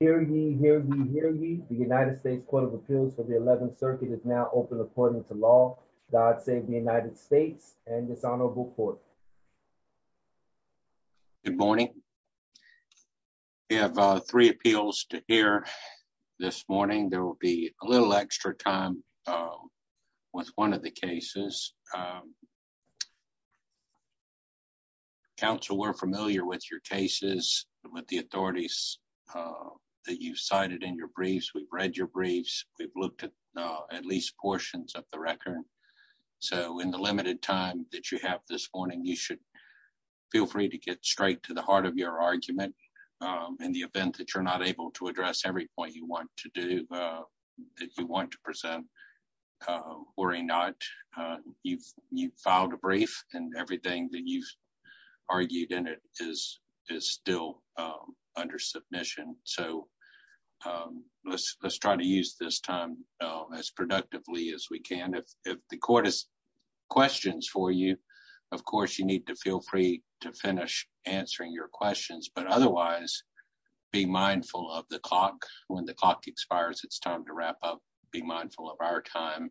Hear ye, hear ye, hear ye. The United States Court of Appeals for the 11th Circuit is now open according to law. God save the United States and this honorable court. Good morning. We have three appeals to hear this morning. There will be a little extra time with one of the cases. Counsel, we're familiar with your cases, with the authorities that you cited in your briefs. We've read your briefs. We've looked at at least portions of the record. So in the limited time that you have this morning, you should feel free to get straight to the heart of your argument in the event that you're not you've filed a brief and everything that you've argued in it is still under submission. So let's try to use this time as productively as we can. If the court has questions for you, of course, you need to feel free to finish answering your questions. But otherwise, be mindful of the clock. When the clock expires, it's time to wrap up. Be mindful of our time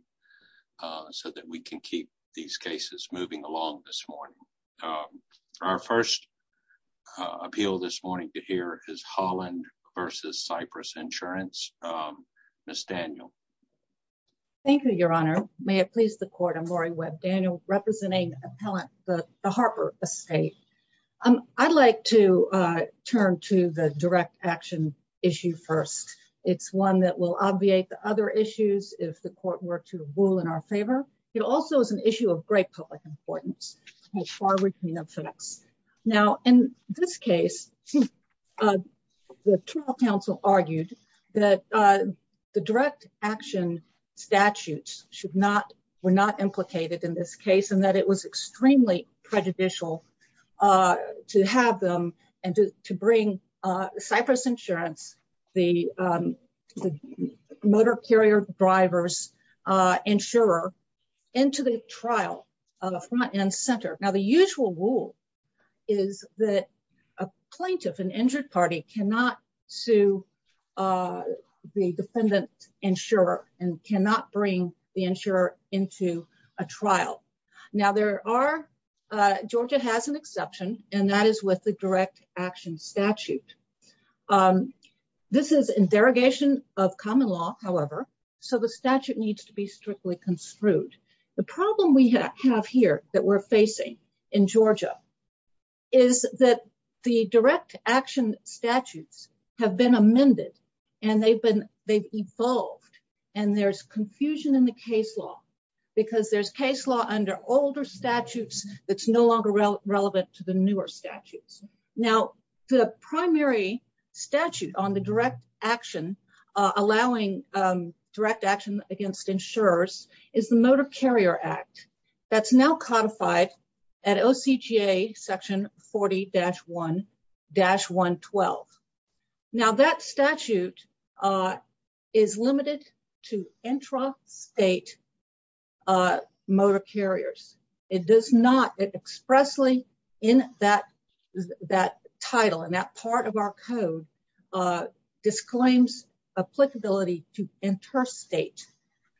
so that we can keep these cases moving along this morning. Our first appeal this morning to hear is Holland versus Cyprus Insurance. Um, Miss Daniel, thank you, Your Honor. May it please the court. I'm Lori Webb, Daniel, representing appellant. But the one that will obviate the other issues if the court were to rule in our favor. It also is an issue of great public importance. Now, in this case, uh, the trial counsel argued that, uh, the direct action statutes should not were not implicated in this case and that it was extremely prejudicial, uh, to have them and to bring Cyprus Insurance, the, um, motor carrier drivers, uh, insurer into the trial front and center. Now, the usual rule is that a plaintiff and injured party cannot sue, uh, the defendant insurer and cannot bring the insurer into a trial. Now there are Georgia has an exception, and that is with the direct action statute. Um, this is interrogation of common law, however, so the statute needs to be strictly construed. The problem we have here that we're facing in Georgia is that the direct action statutes have been amended and they've been they've evolved. And there's confusion in the case law because there's case law under older statutes that's no longer relevant to the newer statutes. Now, the primary statute on the direct action allowing, um, direct action against insurers is the Motor Carrier Act. That's now codified at O. C. G. A. Section 40-1-1 12. Now that statute, uh, is limited to intrastate, uh, motor carriers. It does not expressly in that that title and that part of our code, uh, disclaims applicability to interstate.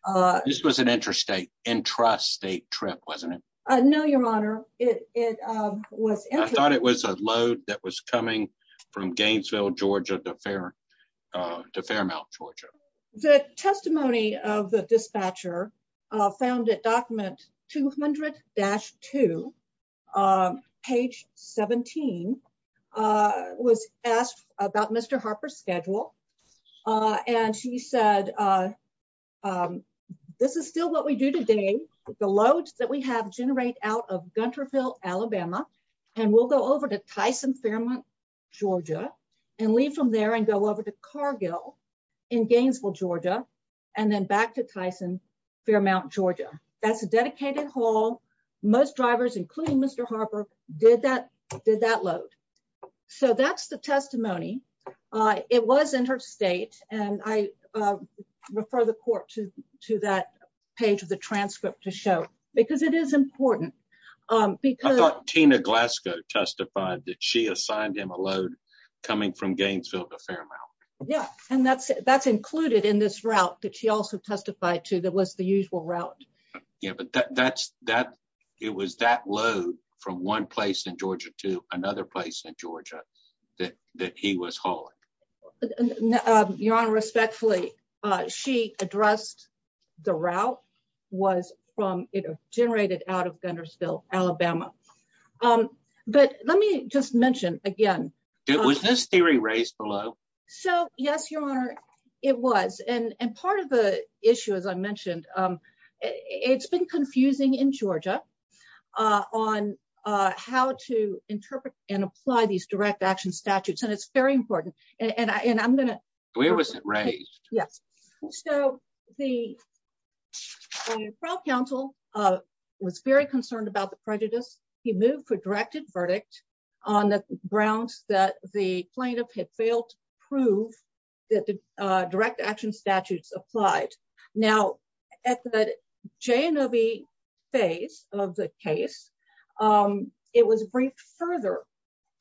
Uh, this was an interstate intrastate trip, wasn't it? No, Your Honor. It was I thought it was a load that was coming from Gainesville, Georgia, the fair, uh, Fairmount, Georgia. The testimony of the dispatcher found it. Document 200-2, um, page 17, uh, was asked about Mr Harper's schedule. Uh, and she said, uh, um, this is still what we do today. The loads that we have generate out of Gunterville, Alabama, and we'll go over to Tyson Fairmont, Georgia and leave from there and go over to Cargill in Gainesville, Georgia, and then back to Tyson Fairmount, Georgia. That's a dedicated hall. Most drivers, including Mr Harper, did that, did that load. So that's the testimony. Uh, it was interstate, and I, uh, refer the court to to that page of the transcript to show because it is important. Um, I thought Tina Glasgow testified that she Yeah, and that's that's included in this route that she also testified to. That was the usual route. Yeah, but that's that. It was that load from one place in Georgia to another place in Georgia that that he was hauling. Your honor. Respectfully, she addressed the route was from generated out of Guntersville, Alabama. Um, but let me just mention again, it was this theory raised below. So, yes, your honor, it was. And and part of the issue, as I mentioned, um, it's been confusing in Georgia on how to interpret and apply these direct action statutes. And it's very important. And I'm gonna where was it raised? Yes. So the pro council, uh, was very concerned about the prejudice. He moved for plaintiff had failed to prove that the direct action statutes applied. Now, at the J and O. B. Phase of the case, um, it was briefed further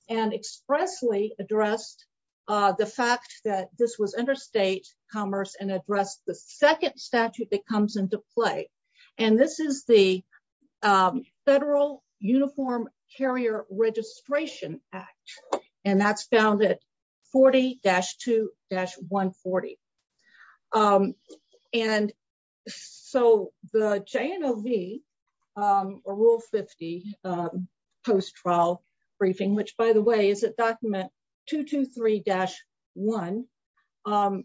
and expressly addressed the fact that this was interstate commerce and addressed the second statute that comes into play. And this is the, um, federal uniform carrier Registration Act, and that's found it 40-2-1 40. Um, and so the J and O. V. Um, rule 50, um, post trial briefing, which, by the way, is a document 223-1, um,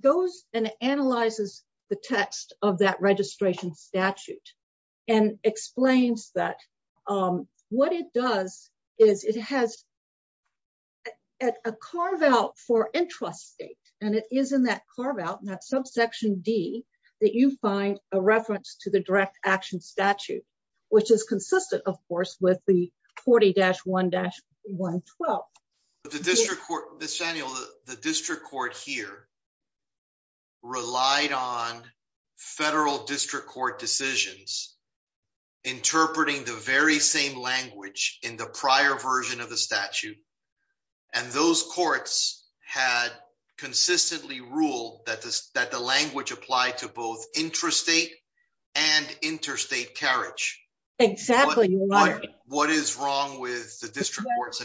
goes and analyzes the text of that registration statute and explains that, um, what it does is it has at a carve out for interest state, and it is in that carve out that subsection D that you find a reference to the direct action statute, which is consistent, of course, with the 40-1-1 12. The district court this annual the district court here relied on federal district court decisions, interpreting the very same language in the prior version of the statute. And those courts had consistently ruled that that the language applied to both intrastate and interstate carriage. Exactly. What is wrong with the district court's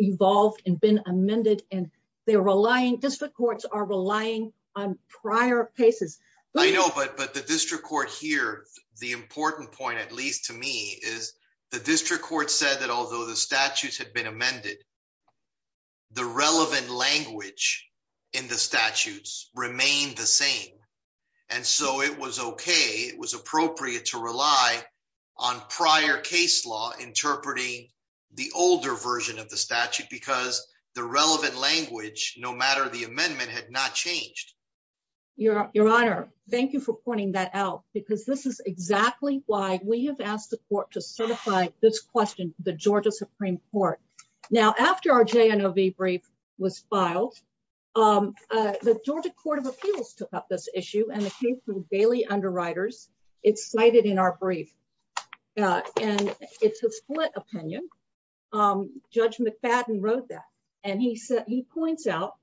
evolved and been amended, and they're relying district courts are relying on prior cases. I know, but but the district court here, the important point, at least to me, is the district court said that although the statutes had been amended, the relevant language in the statutes remained the same. And so it was okay. It was appropriate to rely on prior case law interpreting the older version of the statute because the relevant language, no matter the amendment, had not changed your your honor. Thank you for pointing that out, because this is exactly why we have asked the court to certify this question. The Georgia Supreme Court. Now, after our J. N. O. V. Brief was filed, um, the Georgia Court of Appeals took up this issue, and it came through daily underwriters. It's cited in our brief, and it's a split opinion. Um, Judge McFadden wrote that, and he said he points out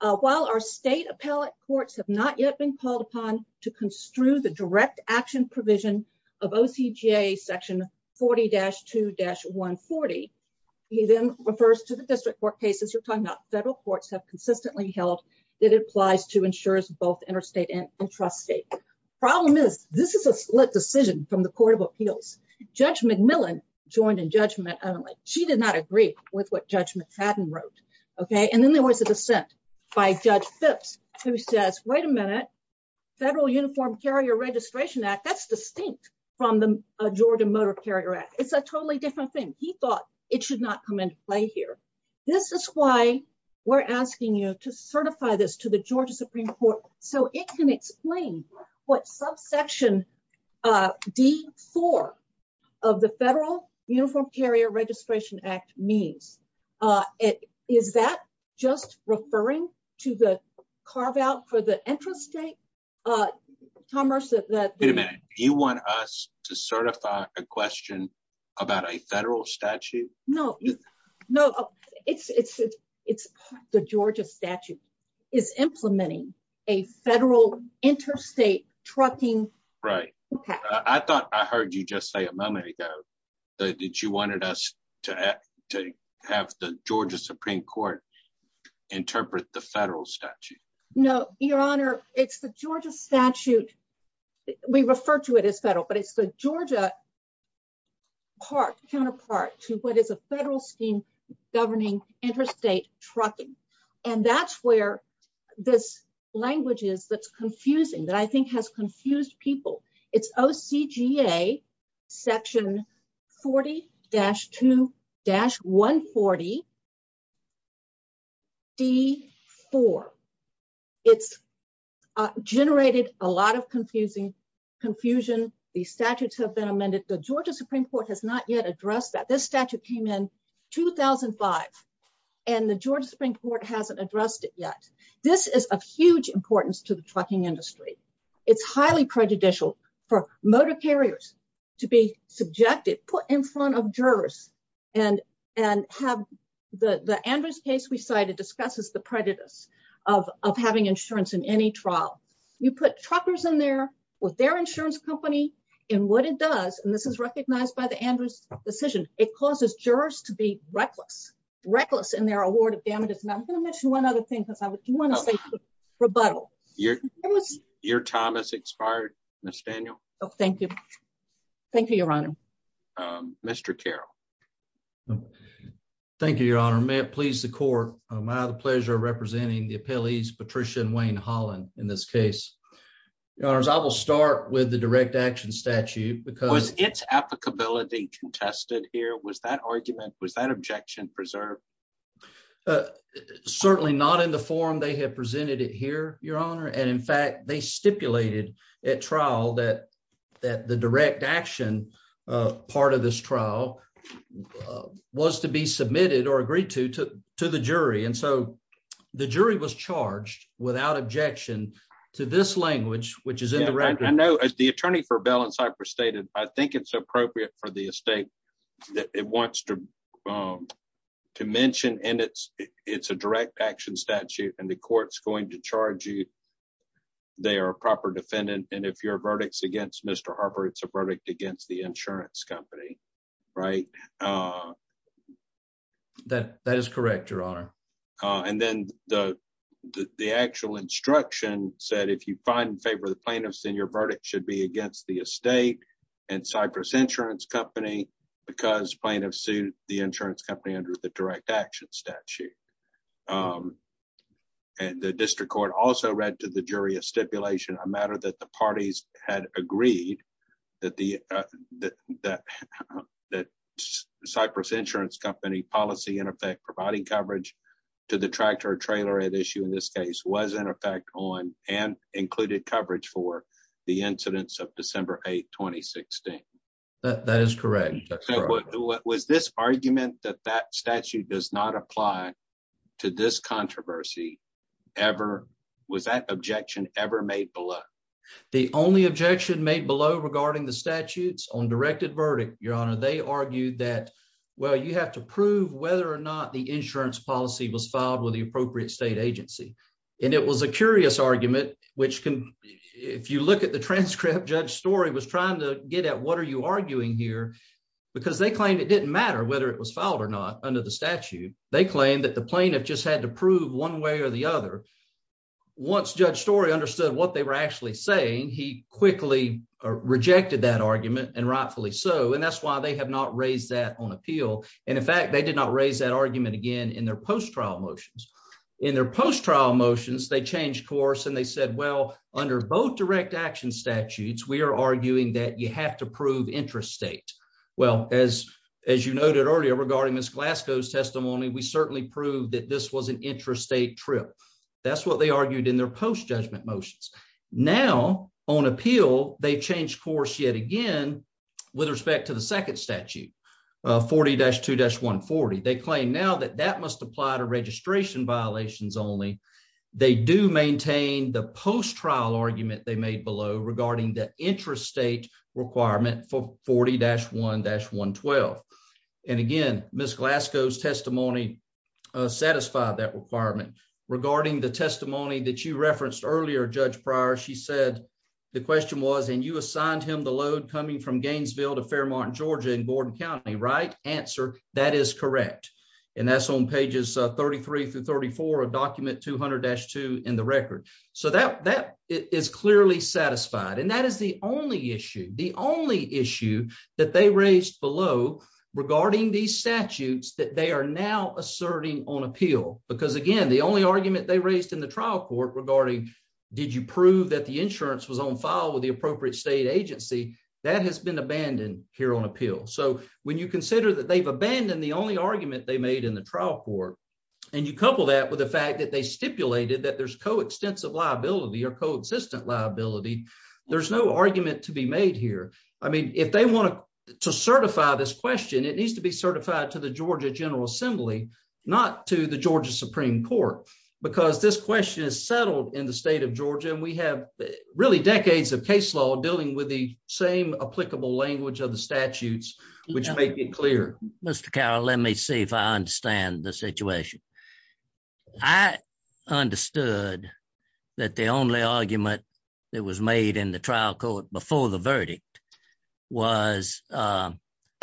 while our state appellate courts have not yet been called upon to construe the direct action provision of O. C. J. Section 40 dash 2 dash 1 40. He then refers to the district court cases you're talking about. Federal courts have consistently held that it applies to ensures both interstate and intrastate. Problem is, this is a split decision from the Court of Appeals. Judge McMillan joined in judgment. She did not agree with what Judge McFadden wrote. Okay? And then there was a dissent by Judge Phipps, who says, Wait a minute. Federal Uniform Carrier Registration Act. That's distinct from the Georgia Motor Carrier Act. It's a totally different thing. He thought it should not come into play here. This is why we're asking you to Supreme Court so it can explain what subsection, uh, D four of the Federal Uniform Carrier Registration Act means. Uh, is that just referring to the carve out for the interest rate? Uh, commerce that you want us to certify a question about a federal statute? No, no, it's it's it's the Georgia statute is implementing a federal interstate trucking. Right. I thought I heard you just say a moment ago that you wanted us to have to have the Georgia Supreme Court interpret the federal statute. No, Your Honor. It's the Georgia statute. We refer to it as federal, but it's the Georgia part counterpart to what is a federal scheme governing interstate trucking. And that's where this language is. That's confusing that I think has confusing confusion. The statutes have been amended. The Georgia Supreme Court has not yet addressed that this statute came in 2005 and the Georgia Supreme Court hasn't addressed it yet. This is of huge importance to the trucking industry. It's highly prejudicial for motor carriers to be subjected, put in front of jurors and and have the Andrews case we cited discusses the there with their insurance company and what it does. And this is recognized by the Andrews decision. It causes jurors to be reckless, reckless in their award of damages. And I'm going to mention one other thing because I would want to say rebuttal. Your your time has expired. Mr Daniel. Thank you. Thank you, Your Honor. Um, Mr Carol. Thank you, Your Honor. May it please the court. I have the pleasure of I will start with the direct action statute because it's applicability contested here. Was that argument? Was that objection preserved? Uh, certainly not in the form they have presented it here, Your Honor. And in fact, they stipulated at trial that that the direct action part of this trial was to be submitted or agreed to to the jury. And so the jury was charged without objection to this language, which is in the record. I know the attorney for Bell in Cyprus stated, I think it's appropriate for the estate that it wants to, um, to mention. And it's it's a direct action statute, and the court's going to charge you. They are a proper defendant. And if your verdicts against Mr Harper, it's a verdict against the insurance company, right? Uh, that that is correct, Your Honor. Uh, and then the the actual instruction said, if you find in favor of the plaintiffs in your verdict should be against the estate and Cyprus Insurance Company because plaintiffs sued the insurance company under the direct action statute. Um, and the district court also read to the jury of stipulation a matter that the parties had agreed that the that that Cyprus Insurance Company policy in effect providing coverage to the tractor trailer at issue in this case was in effect on and included coverage for the incidents of December 8 2016. That is correct. What was this argument that that statute does not apply to this controversy ever? Was that objection ever made below? The only objection made below regarding the statutes on directed verdict, Your Honor, they argued that, well, you have to prove whether or not the insurance policy was filed with the appropriate state agency. And it was a curious argument, which if you look at the transcript, Judge story was trying to get at what are you arguing here? Because they claimed it didn't matter whether it was filed or not under the statute. They claim that the plaintiff just had to prove one way or the other. Once Judge story understood what they were actually saying, he quickly rejected that argument and rightfully so. And that's why they have not raised that on appeal. And in fact, they did not raise that argument again in their post trial motions. In their post trial motions, they changed course and they said, Well, under both direct action statutes, we're arguing that you have to prove interest state. Well, as as you noted earlier regarding this Glasgow's testimony, we certainly proved that this was an interest state trip. That's what they argued in their post judgment motions. Now on appeal, they changed course yet again with respect to the second statute 40-2-1 40. They claim now that that must apply to registration violations. Only they do maintain the post trial argument they made below regarding the interest state requirement for 40-1-1 12. And satisfied that requirement regarding the testimony that you referenced earlier, Judge Pryor. She said the question was and you assigned him the load coming from Gainesville to Fairmont Georgia in Gordon County, right answer. That is correct. And that's on pages 33-34 of document 200-2 in the record. So that that is clearly satisfied. And that is the only issue, the only issue that they raised below regarding these statutes that they are now asserting on appeal. Because again, the only argument they raised in the trial court regarding did you prove that the insurance was on file with the appropriate state agency that has been abandoned here on appeal. So when you consider that they've abandoned the only argument they made in the trial court and you couple that with the fact that they stipulated that there's coextensive liability or coexistent liability, there's no argument to be made here. I mean, if they want to certify this question, it needs to be not to the Georgia Supreme Court because this question is settled in the state of Georgia and we have really decades of case law dealing with the same applicable language of the statutes which make it clear. Mr. Carroll, let me see if I understand the situation. I understood that the only argument that was made in the trial court before the verdict was the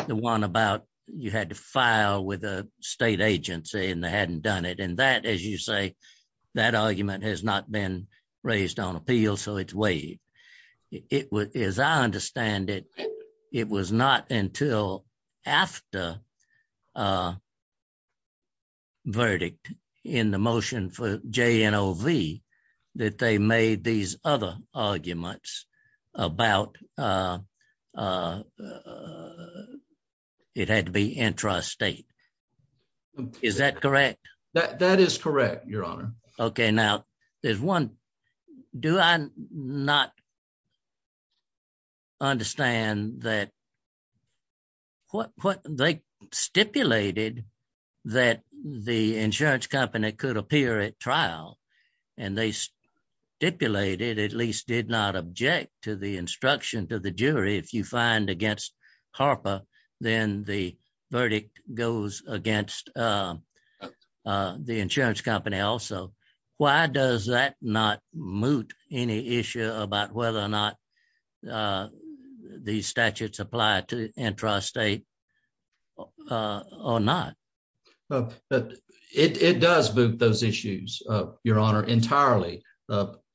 one about you had to file with a state agency and they hadn't done it. And that, as you say, that argument has not been raised on appeal. So it's weighed. It was, as I understand it, it was not until after uh verdict in the motion for J. N. O. V. That they made these other arguments about, uh, uh, it had to be intrastate. Is that correct? That is correct. Your stipulated that the insurance company could appear at trial and they stipulated at least did not object to the instruction to the jury. If you find against Harper, then the verdict goes against, uh, uh, the insurance company also. Why does that not moot any issue about whether or not, uh, the statutes applied to intrastate, uh, or not? But it does boot those issues of your honor entirely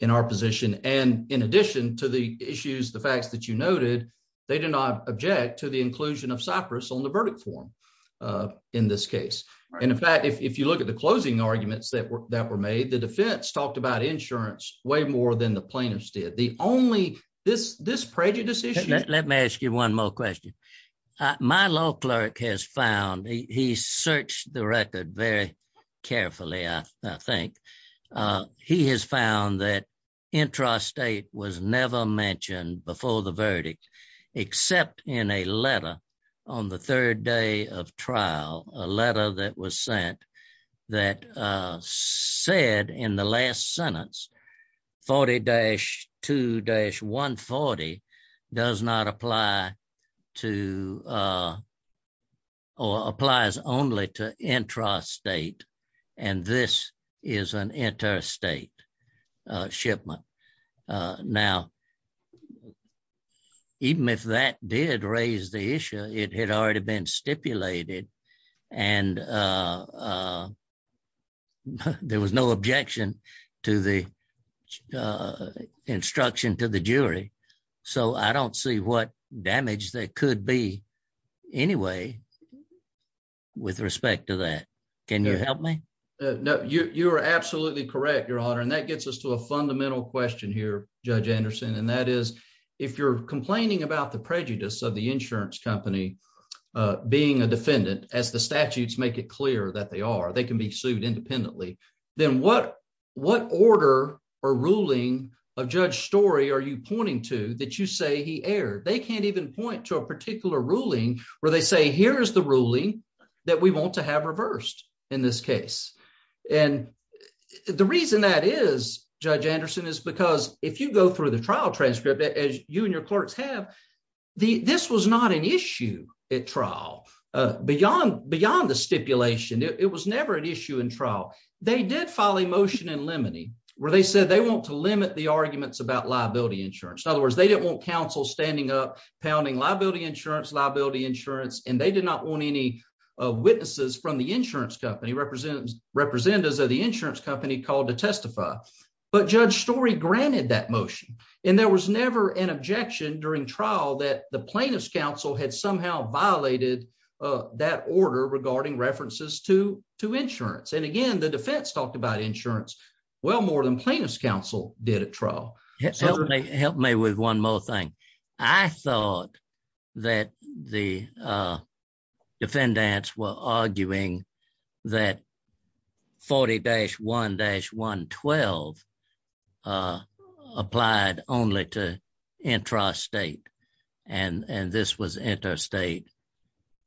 in our position. And in addition to the issues, the facts that you noted, they did not object to the inclusion of cypress on the verdict form. Uh, in this case, in fact, if you look at the closing arguments that were that were made, the defense talked about insurance way more than the more question my law clerk has found. He searched the record very carefully. I think, uh, he has found that intrastate was never mentioned before the verdict, except in a letter on the third day of trial, a letter that was to, uh, or applies only to intrastate. And this is an interstate shipment. Uh, now, even if that did raise the issue, it had already been stipulated. And, uh, uh, there was no objection to the, uh, instruction to the jury. So I don't see what damage that could be anyway with respect to that. Can you help me? No, you are absolutely correct, your honor. And that gets us to a fundamental question here, Judge Anderson. And that is if you're complaining about the prejudice of the insurance company being a defendant as the statutes make it clear that they are, they can be sued independently. Then what what order or ruling of judge story are you pointing to that you say he aired? They can't even point to a particular ruling where they say, here is the ruling that we want to have reversed in this case. And the reason that is, Judge Anderson is because if you go through the trial transcript as you and your clerks have, this was not an issue at trial beyond beyond the stipulation. It was never an issue in trial. They did file a motion in limine where they said they want to limit the liability insurance. In other words, they didn't want counsel standing up pounding liability insurance, liability insurance, and they did not want any witnesses from the insurance company represent representatives of the insurance company called to testify. But Judge story granted that motion and there was never an objection during trial that the plaintiff's counsel had somehow violated that order regarding references to to insurance. And again, the defense talked about insurance well more than plaintiff's counsel did at help me with one more thing. I thought that the uh defendants were arguing that 40-1-1 12 uh applied only to intrastate. And and this was to enter state.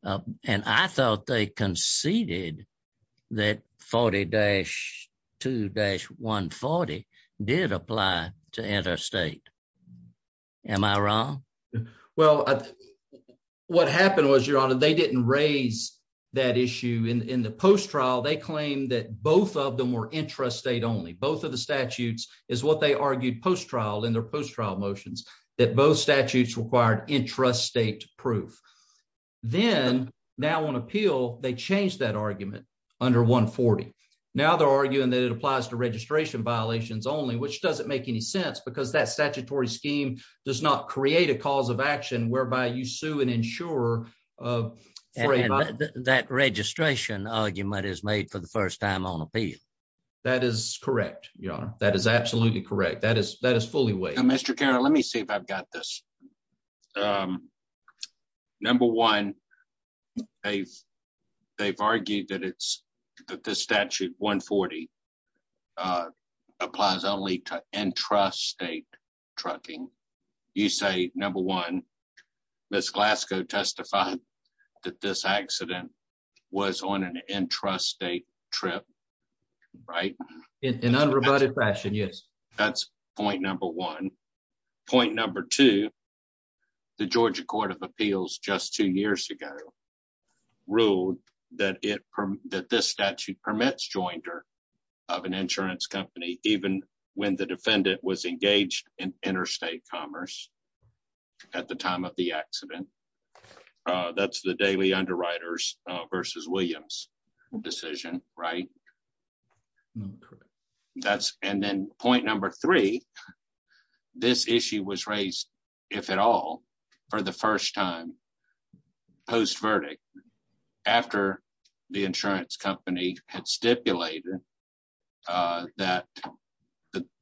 Am I wrong? Well, what happened was your honor. They didn't raise that issue in the post trial. They claim that both of them were intrastate only. Both of the statutes is what they argued post trial in their post trial motions that both statutes required intrastate proof. Then now on appeal, they changed that argument under 1 40. Now they're arguing that it because that statutory scheme does not create a cause of action whereby you sue an insurer of that registration argument is made for the first time on appeal. That is correct. You know, that is absolutely correct. That is, that is fully way. Mr. Carroll, let me see if I've got this. Um, number one, they've, they've argued that it's that this statute 1 40 uh applies only to intrastate trucking. You say number one, Miss Glasgow testified that this accident was on an intrastate trip, right? In unrebutted fashion. Yes, that's point number one. Point number two, the Georgia Court of Appeals just two years ago ruled that it that this statute permits jointer of an insurance company even when the defendant was engaged in interstate commerce at the time of the accident. Uh, that's the daily underwriters versus Williams decision, right? That's and then point number three, this issue was raised if at all for the first time post verdict after the insurance company had stipulated, uh, that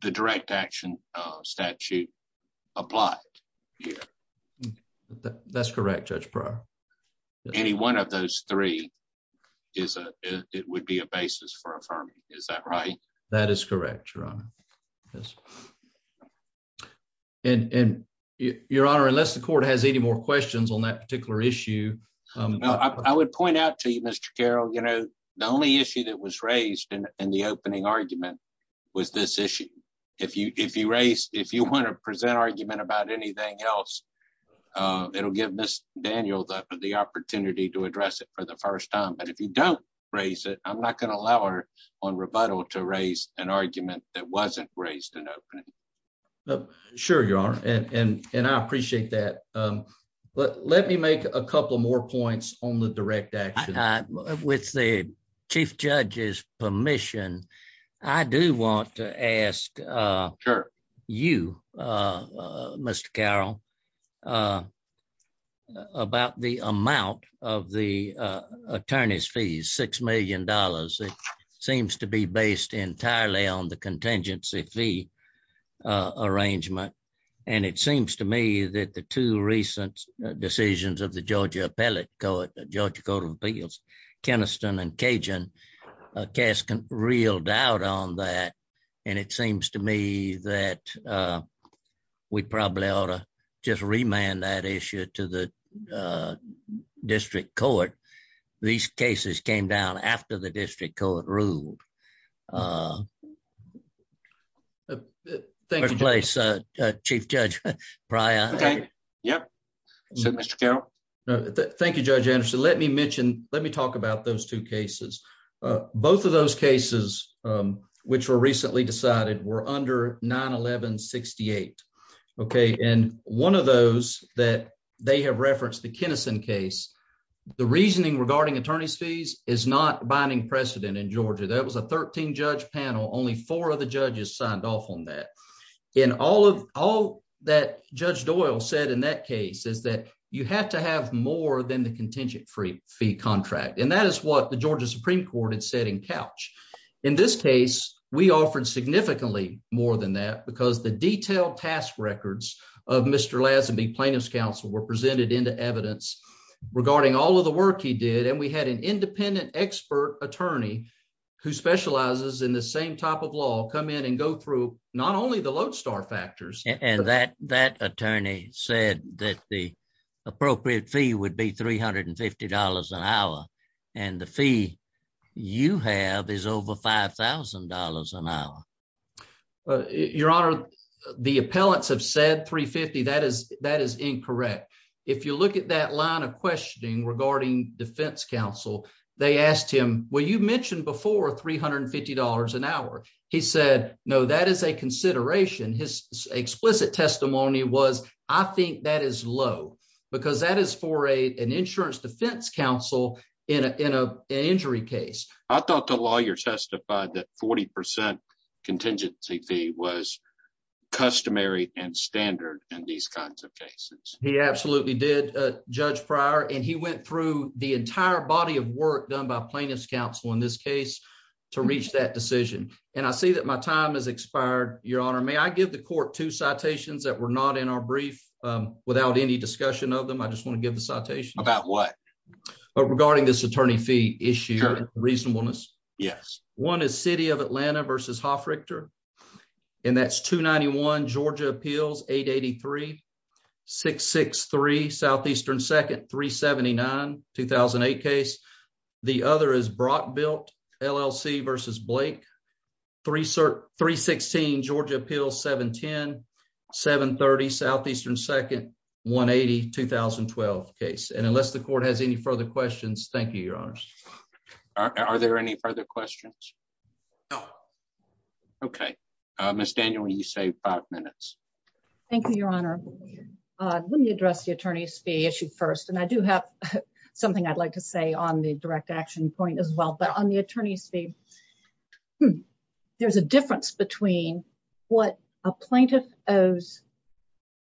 the direct action statute applied. Yeah, that's correct. Judge prior. Any one of those three is a, it would be a basis for affirming. Is that right? That is correct. Your honor. Yes. Mhm. And, and your honor, unless the court has any more questions on that particular issue, um, I would point out to you, Mr Carroll, you know, the only issue that was raised in the opening argument was this issue. If you, if you raised, if you want to present argument about anything else, uh, it will give Miss Daniel the opportunity to address it for the first time. But if you don't raise it, I'm not going to allow her on rebuttal to raise an argument that wasn't raised in opening. Sure, your honor. And I appreciate that. Um, but let me make a couple more points on the direct action with the chief judge's permission. I do want to ask, uh, you, uh, Mr Carroll, uh, about the amount of the attorney's fees. $6 million. It seems to be based entirely on the contingency fee, uh, arrangement. And it seems to me that the two recent decisions of the Georgia Appellate Court, Georgia Court of Appeals, Keniston and Cajun cast real doubt on that. And it seems to me that, uh, we probably ought to just remand that issue to the, uh, district court. These Uh, thank you. Place. Uh, Chief Judge Pryor. Yep. So, Mr Carroll, thank you, Judge Anderson. Let me mention, let me talk about those two cases. Uh, both of those cases, um, which were recently decided were under 9 11 68. Okay. And one of those that they have referenced the Keniston case, the reasoning regarding attorney's fees is not binding precedent in Georgia. That was a 13 judge panel. Only four of the judges signed off on that. And all of all that Judge Doyle said in that case is that you have to have more than the contingent free fee contract. And that is what the Georgia Supreme Court had said in couch. In this case, we offered significantly more than that because the detailed task records of Mr Lazenby Plaintiffs Council were presented into evidence regarding all of the work he did. And we had an independent expert attorney who specializes in the same type of law come in and go through not only the lodestar factors and that that attorney said that the appropriate fee would be $350 an hour. And the fee you have is over $5,000 an hour. Your honor, the appellants have said 3 50. That is, that is incorrect. If you look at that line of questioning regarding defense counsel, they asked him, well, you mentioned before $350 an hour. He said, no, that is a consideration. His explicit testimony was, I think that is low because that is for a an insurance defense counsel in a in a injury case. I thought the lawyer testified that 40% contingency fee was customary and standard in these kinds of cases. He judged prior and he went through the entire body of work done by plaintiffs counsel in this case to reach that decision. And I see that my time has expired. Your honor, may I give the court two citations that were not in our brief without any discussion of them. I just want to give the citation about what regarding this attorney fee issue reasonableness. Yes. One is city of Atlanta versus Hofrichter and that's 2 91 Georgia appeals 8 83 663 southeastern 2nd 3 79 2008 case. The other is Brock built LLC versus Blake 3 3 16 Georgia Appeals 7 10 7 30 southeastern 2nd 1 80 2012 case. And unless the court has any further questions, thank you, your honors. Are there any further questions? Okay, Miss Daniel, you say five minutes. Thank you, Your Honor. Uh, let me be issued first and I do have something I'd like to say on the direct action point as well. But on the attorney's fee, hmm, there's a difference between what a plaintiff owes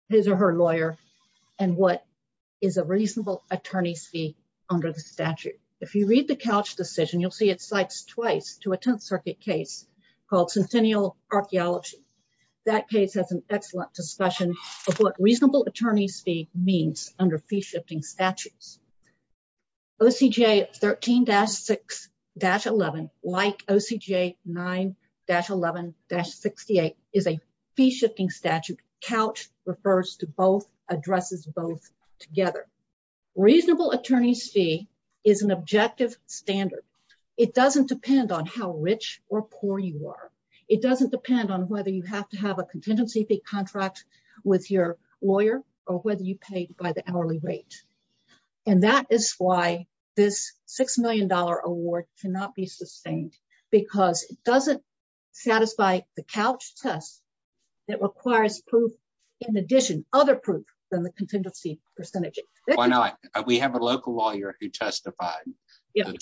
his or her lawyer and what is a reasonable attorney's fee under the statute. If you read the couch decision, you'll see it cites twice to a 10th Circuit case called Centennial Archaeology. That case has an excellent discussion of what fee shifting statutes. O. C. J. 13-6-11 like O. C. J. 9-11-68 is a fee shifting statute. Couch refers to both addresses both together. Reasonable attorney's fee is an objective standard. It doesn't depend on how rich or poor you are. It doesn't depend on whether you have to have a contingency fee contract with your or whether you paid by the hourly rate. And that is why this $6 million award cannot be sustained because it doesn't satisfy the couch test that requires proof. In addition, other proof than the contingency percentage. Why not? We have a local lawyer who testified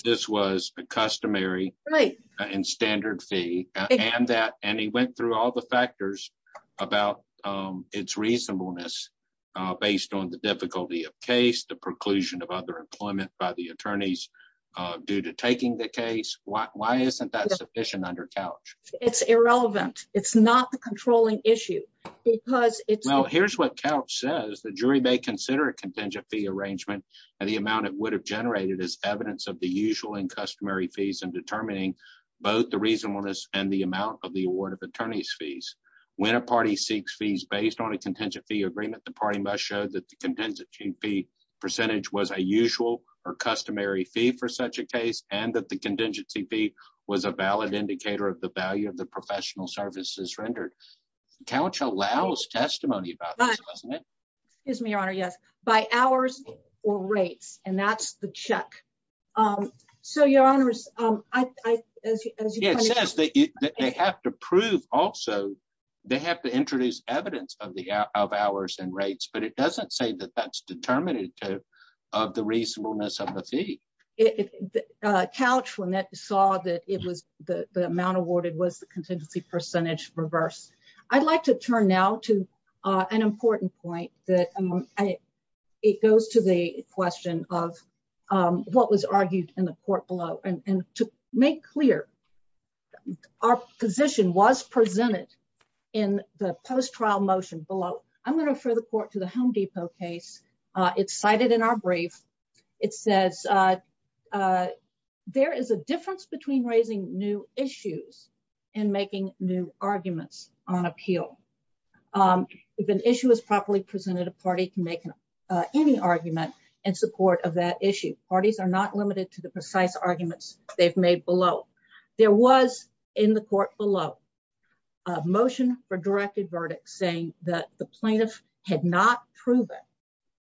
this was a customary and standard fee and that and he went through all the factors about its reasonableness based on the difficulty of case, the preclusion of other employment by the attorneys due to taking the case. Why isn't that sufficient under couch? It's irrelevant. It's not the controlling issue because here's what couch says the jury may consider a contingent fee arrangement and the amount it would have generated as evidence of the usual and customary fees and determining both the reasonableness and the amount of the award of attorney's fees. When a party seeks fees based on a contingent fee agreement, the party must show that the contingency fee percentage was a usual or customary fee for such a case and that the contingency fee was a valid indicator of the value of the professional services rendered. Couch allows testimony about, isn't it? Excuse me, your honor. Yes, by hours or rates. And that's the check. Um, so your honors, um, as it says that they have to prove also they have to introduce evidence of the of hours and rates. But it doesn't say that that's determinative of the reasonableness of the fee couch when that saw that it was the amount awarded was the contingency percentage reverse. I'd like to turn now to an important point that it goes to the question of what was argued in the court below and to make clear our position was presented in the post trial motion below. I'm going to refer the court to the Home Depot case. It's cited in our brief. It says, uh, uh, there is a difference between raising new issues and making new arguments on appeal. Um, if an issue is properly presented, a party can make any argument in support of that issue. Parties are not limited to the precise arguments they've made below. There was in the court below a motion for directed verdict, saying that the plaintiff had not proven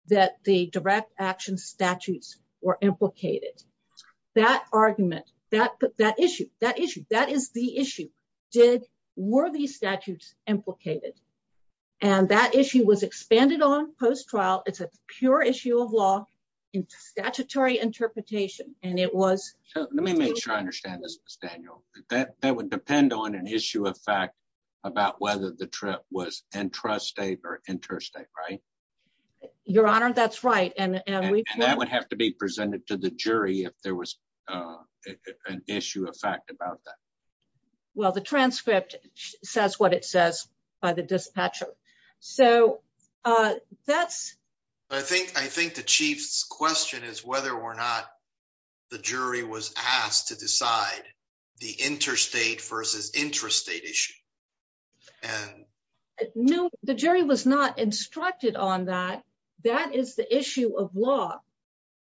that the direct action statutes were implicated. That argument that that issue that issue that is the issue did worthy statutes implicated. And that issue was expanded on post trial. It's a pure issue of law in statutory interpretation, and it was let me make sure I understand this is Daniel that that would depend on an issue of fact about whether the trip was entrusted or interstate, right? Your honor, that's right. And that would have to be presented to the jury if there was, uh, an issue of fact about that. Well, the transcript says what it says by the dispatcher. So, uh, that's I think I think the chief's question is whether or not the jury was asked to decide the interstate versus interstate issue. And no, the jury was not instructed on that. That is the issue of law.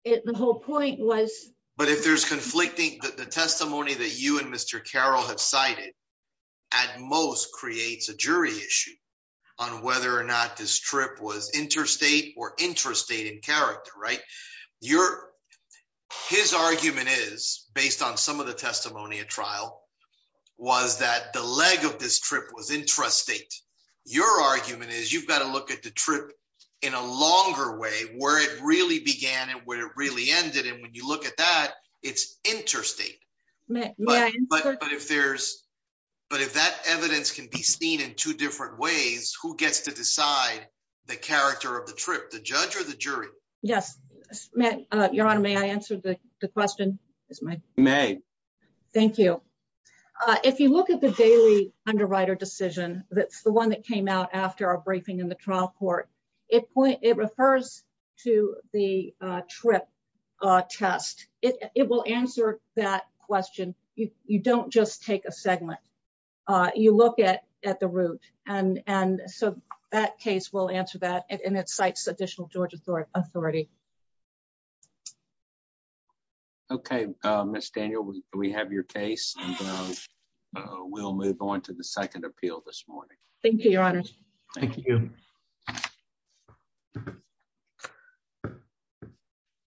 The whole point was, but if there's conflicting the testimony that you and Mr Carol have cited at most creates a jury issue on whether or not this trip was interstate or interstate in character, right? Your his argument is based on some of the testimony of trial was that the leg of this trip was interest state. Your argument is you've got to look at the trip in a longer way where it really began and where it really ended. And when you look at that, it's interstate. But if there's, but if that evidence can be seen in two different ways, who gets to decide the character of the trip? The judge or the jury? Yes, your honor. May I answer the question is my may. Thank you. Uh, if you look at the daily underwriter decision, that's the one that came out after our briefing in the trial court. It point. It refers to the trip test. It will answer that question. You don't just take a segment. Uh, you look at at the root and and so that case will answer that. And it cites additional Georgia authority authority. Okay, Miss Daniel, we have your case and we'll move on to the second appeal this morning. Thank you, Your Honor. Thank you.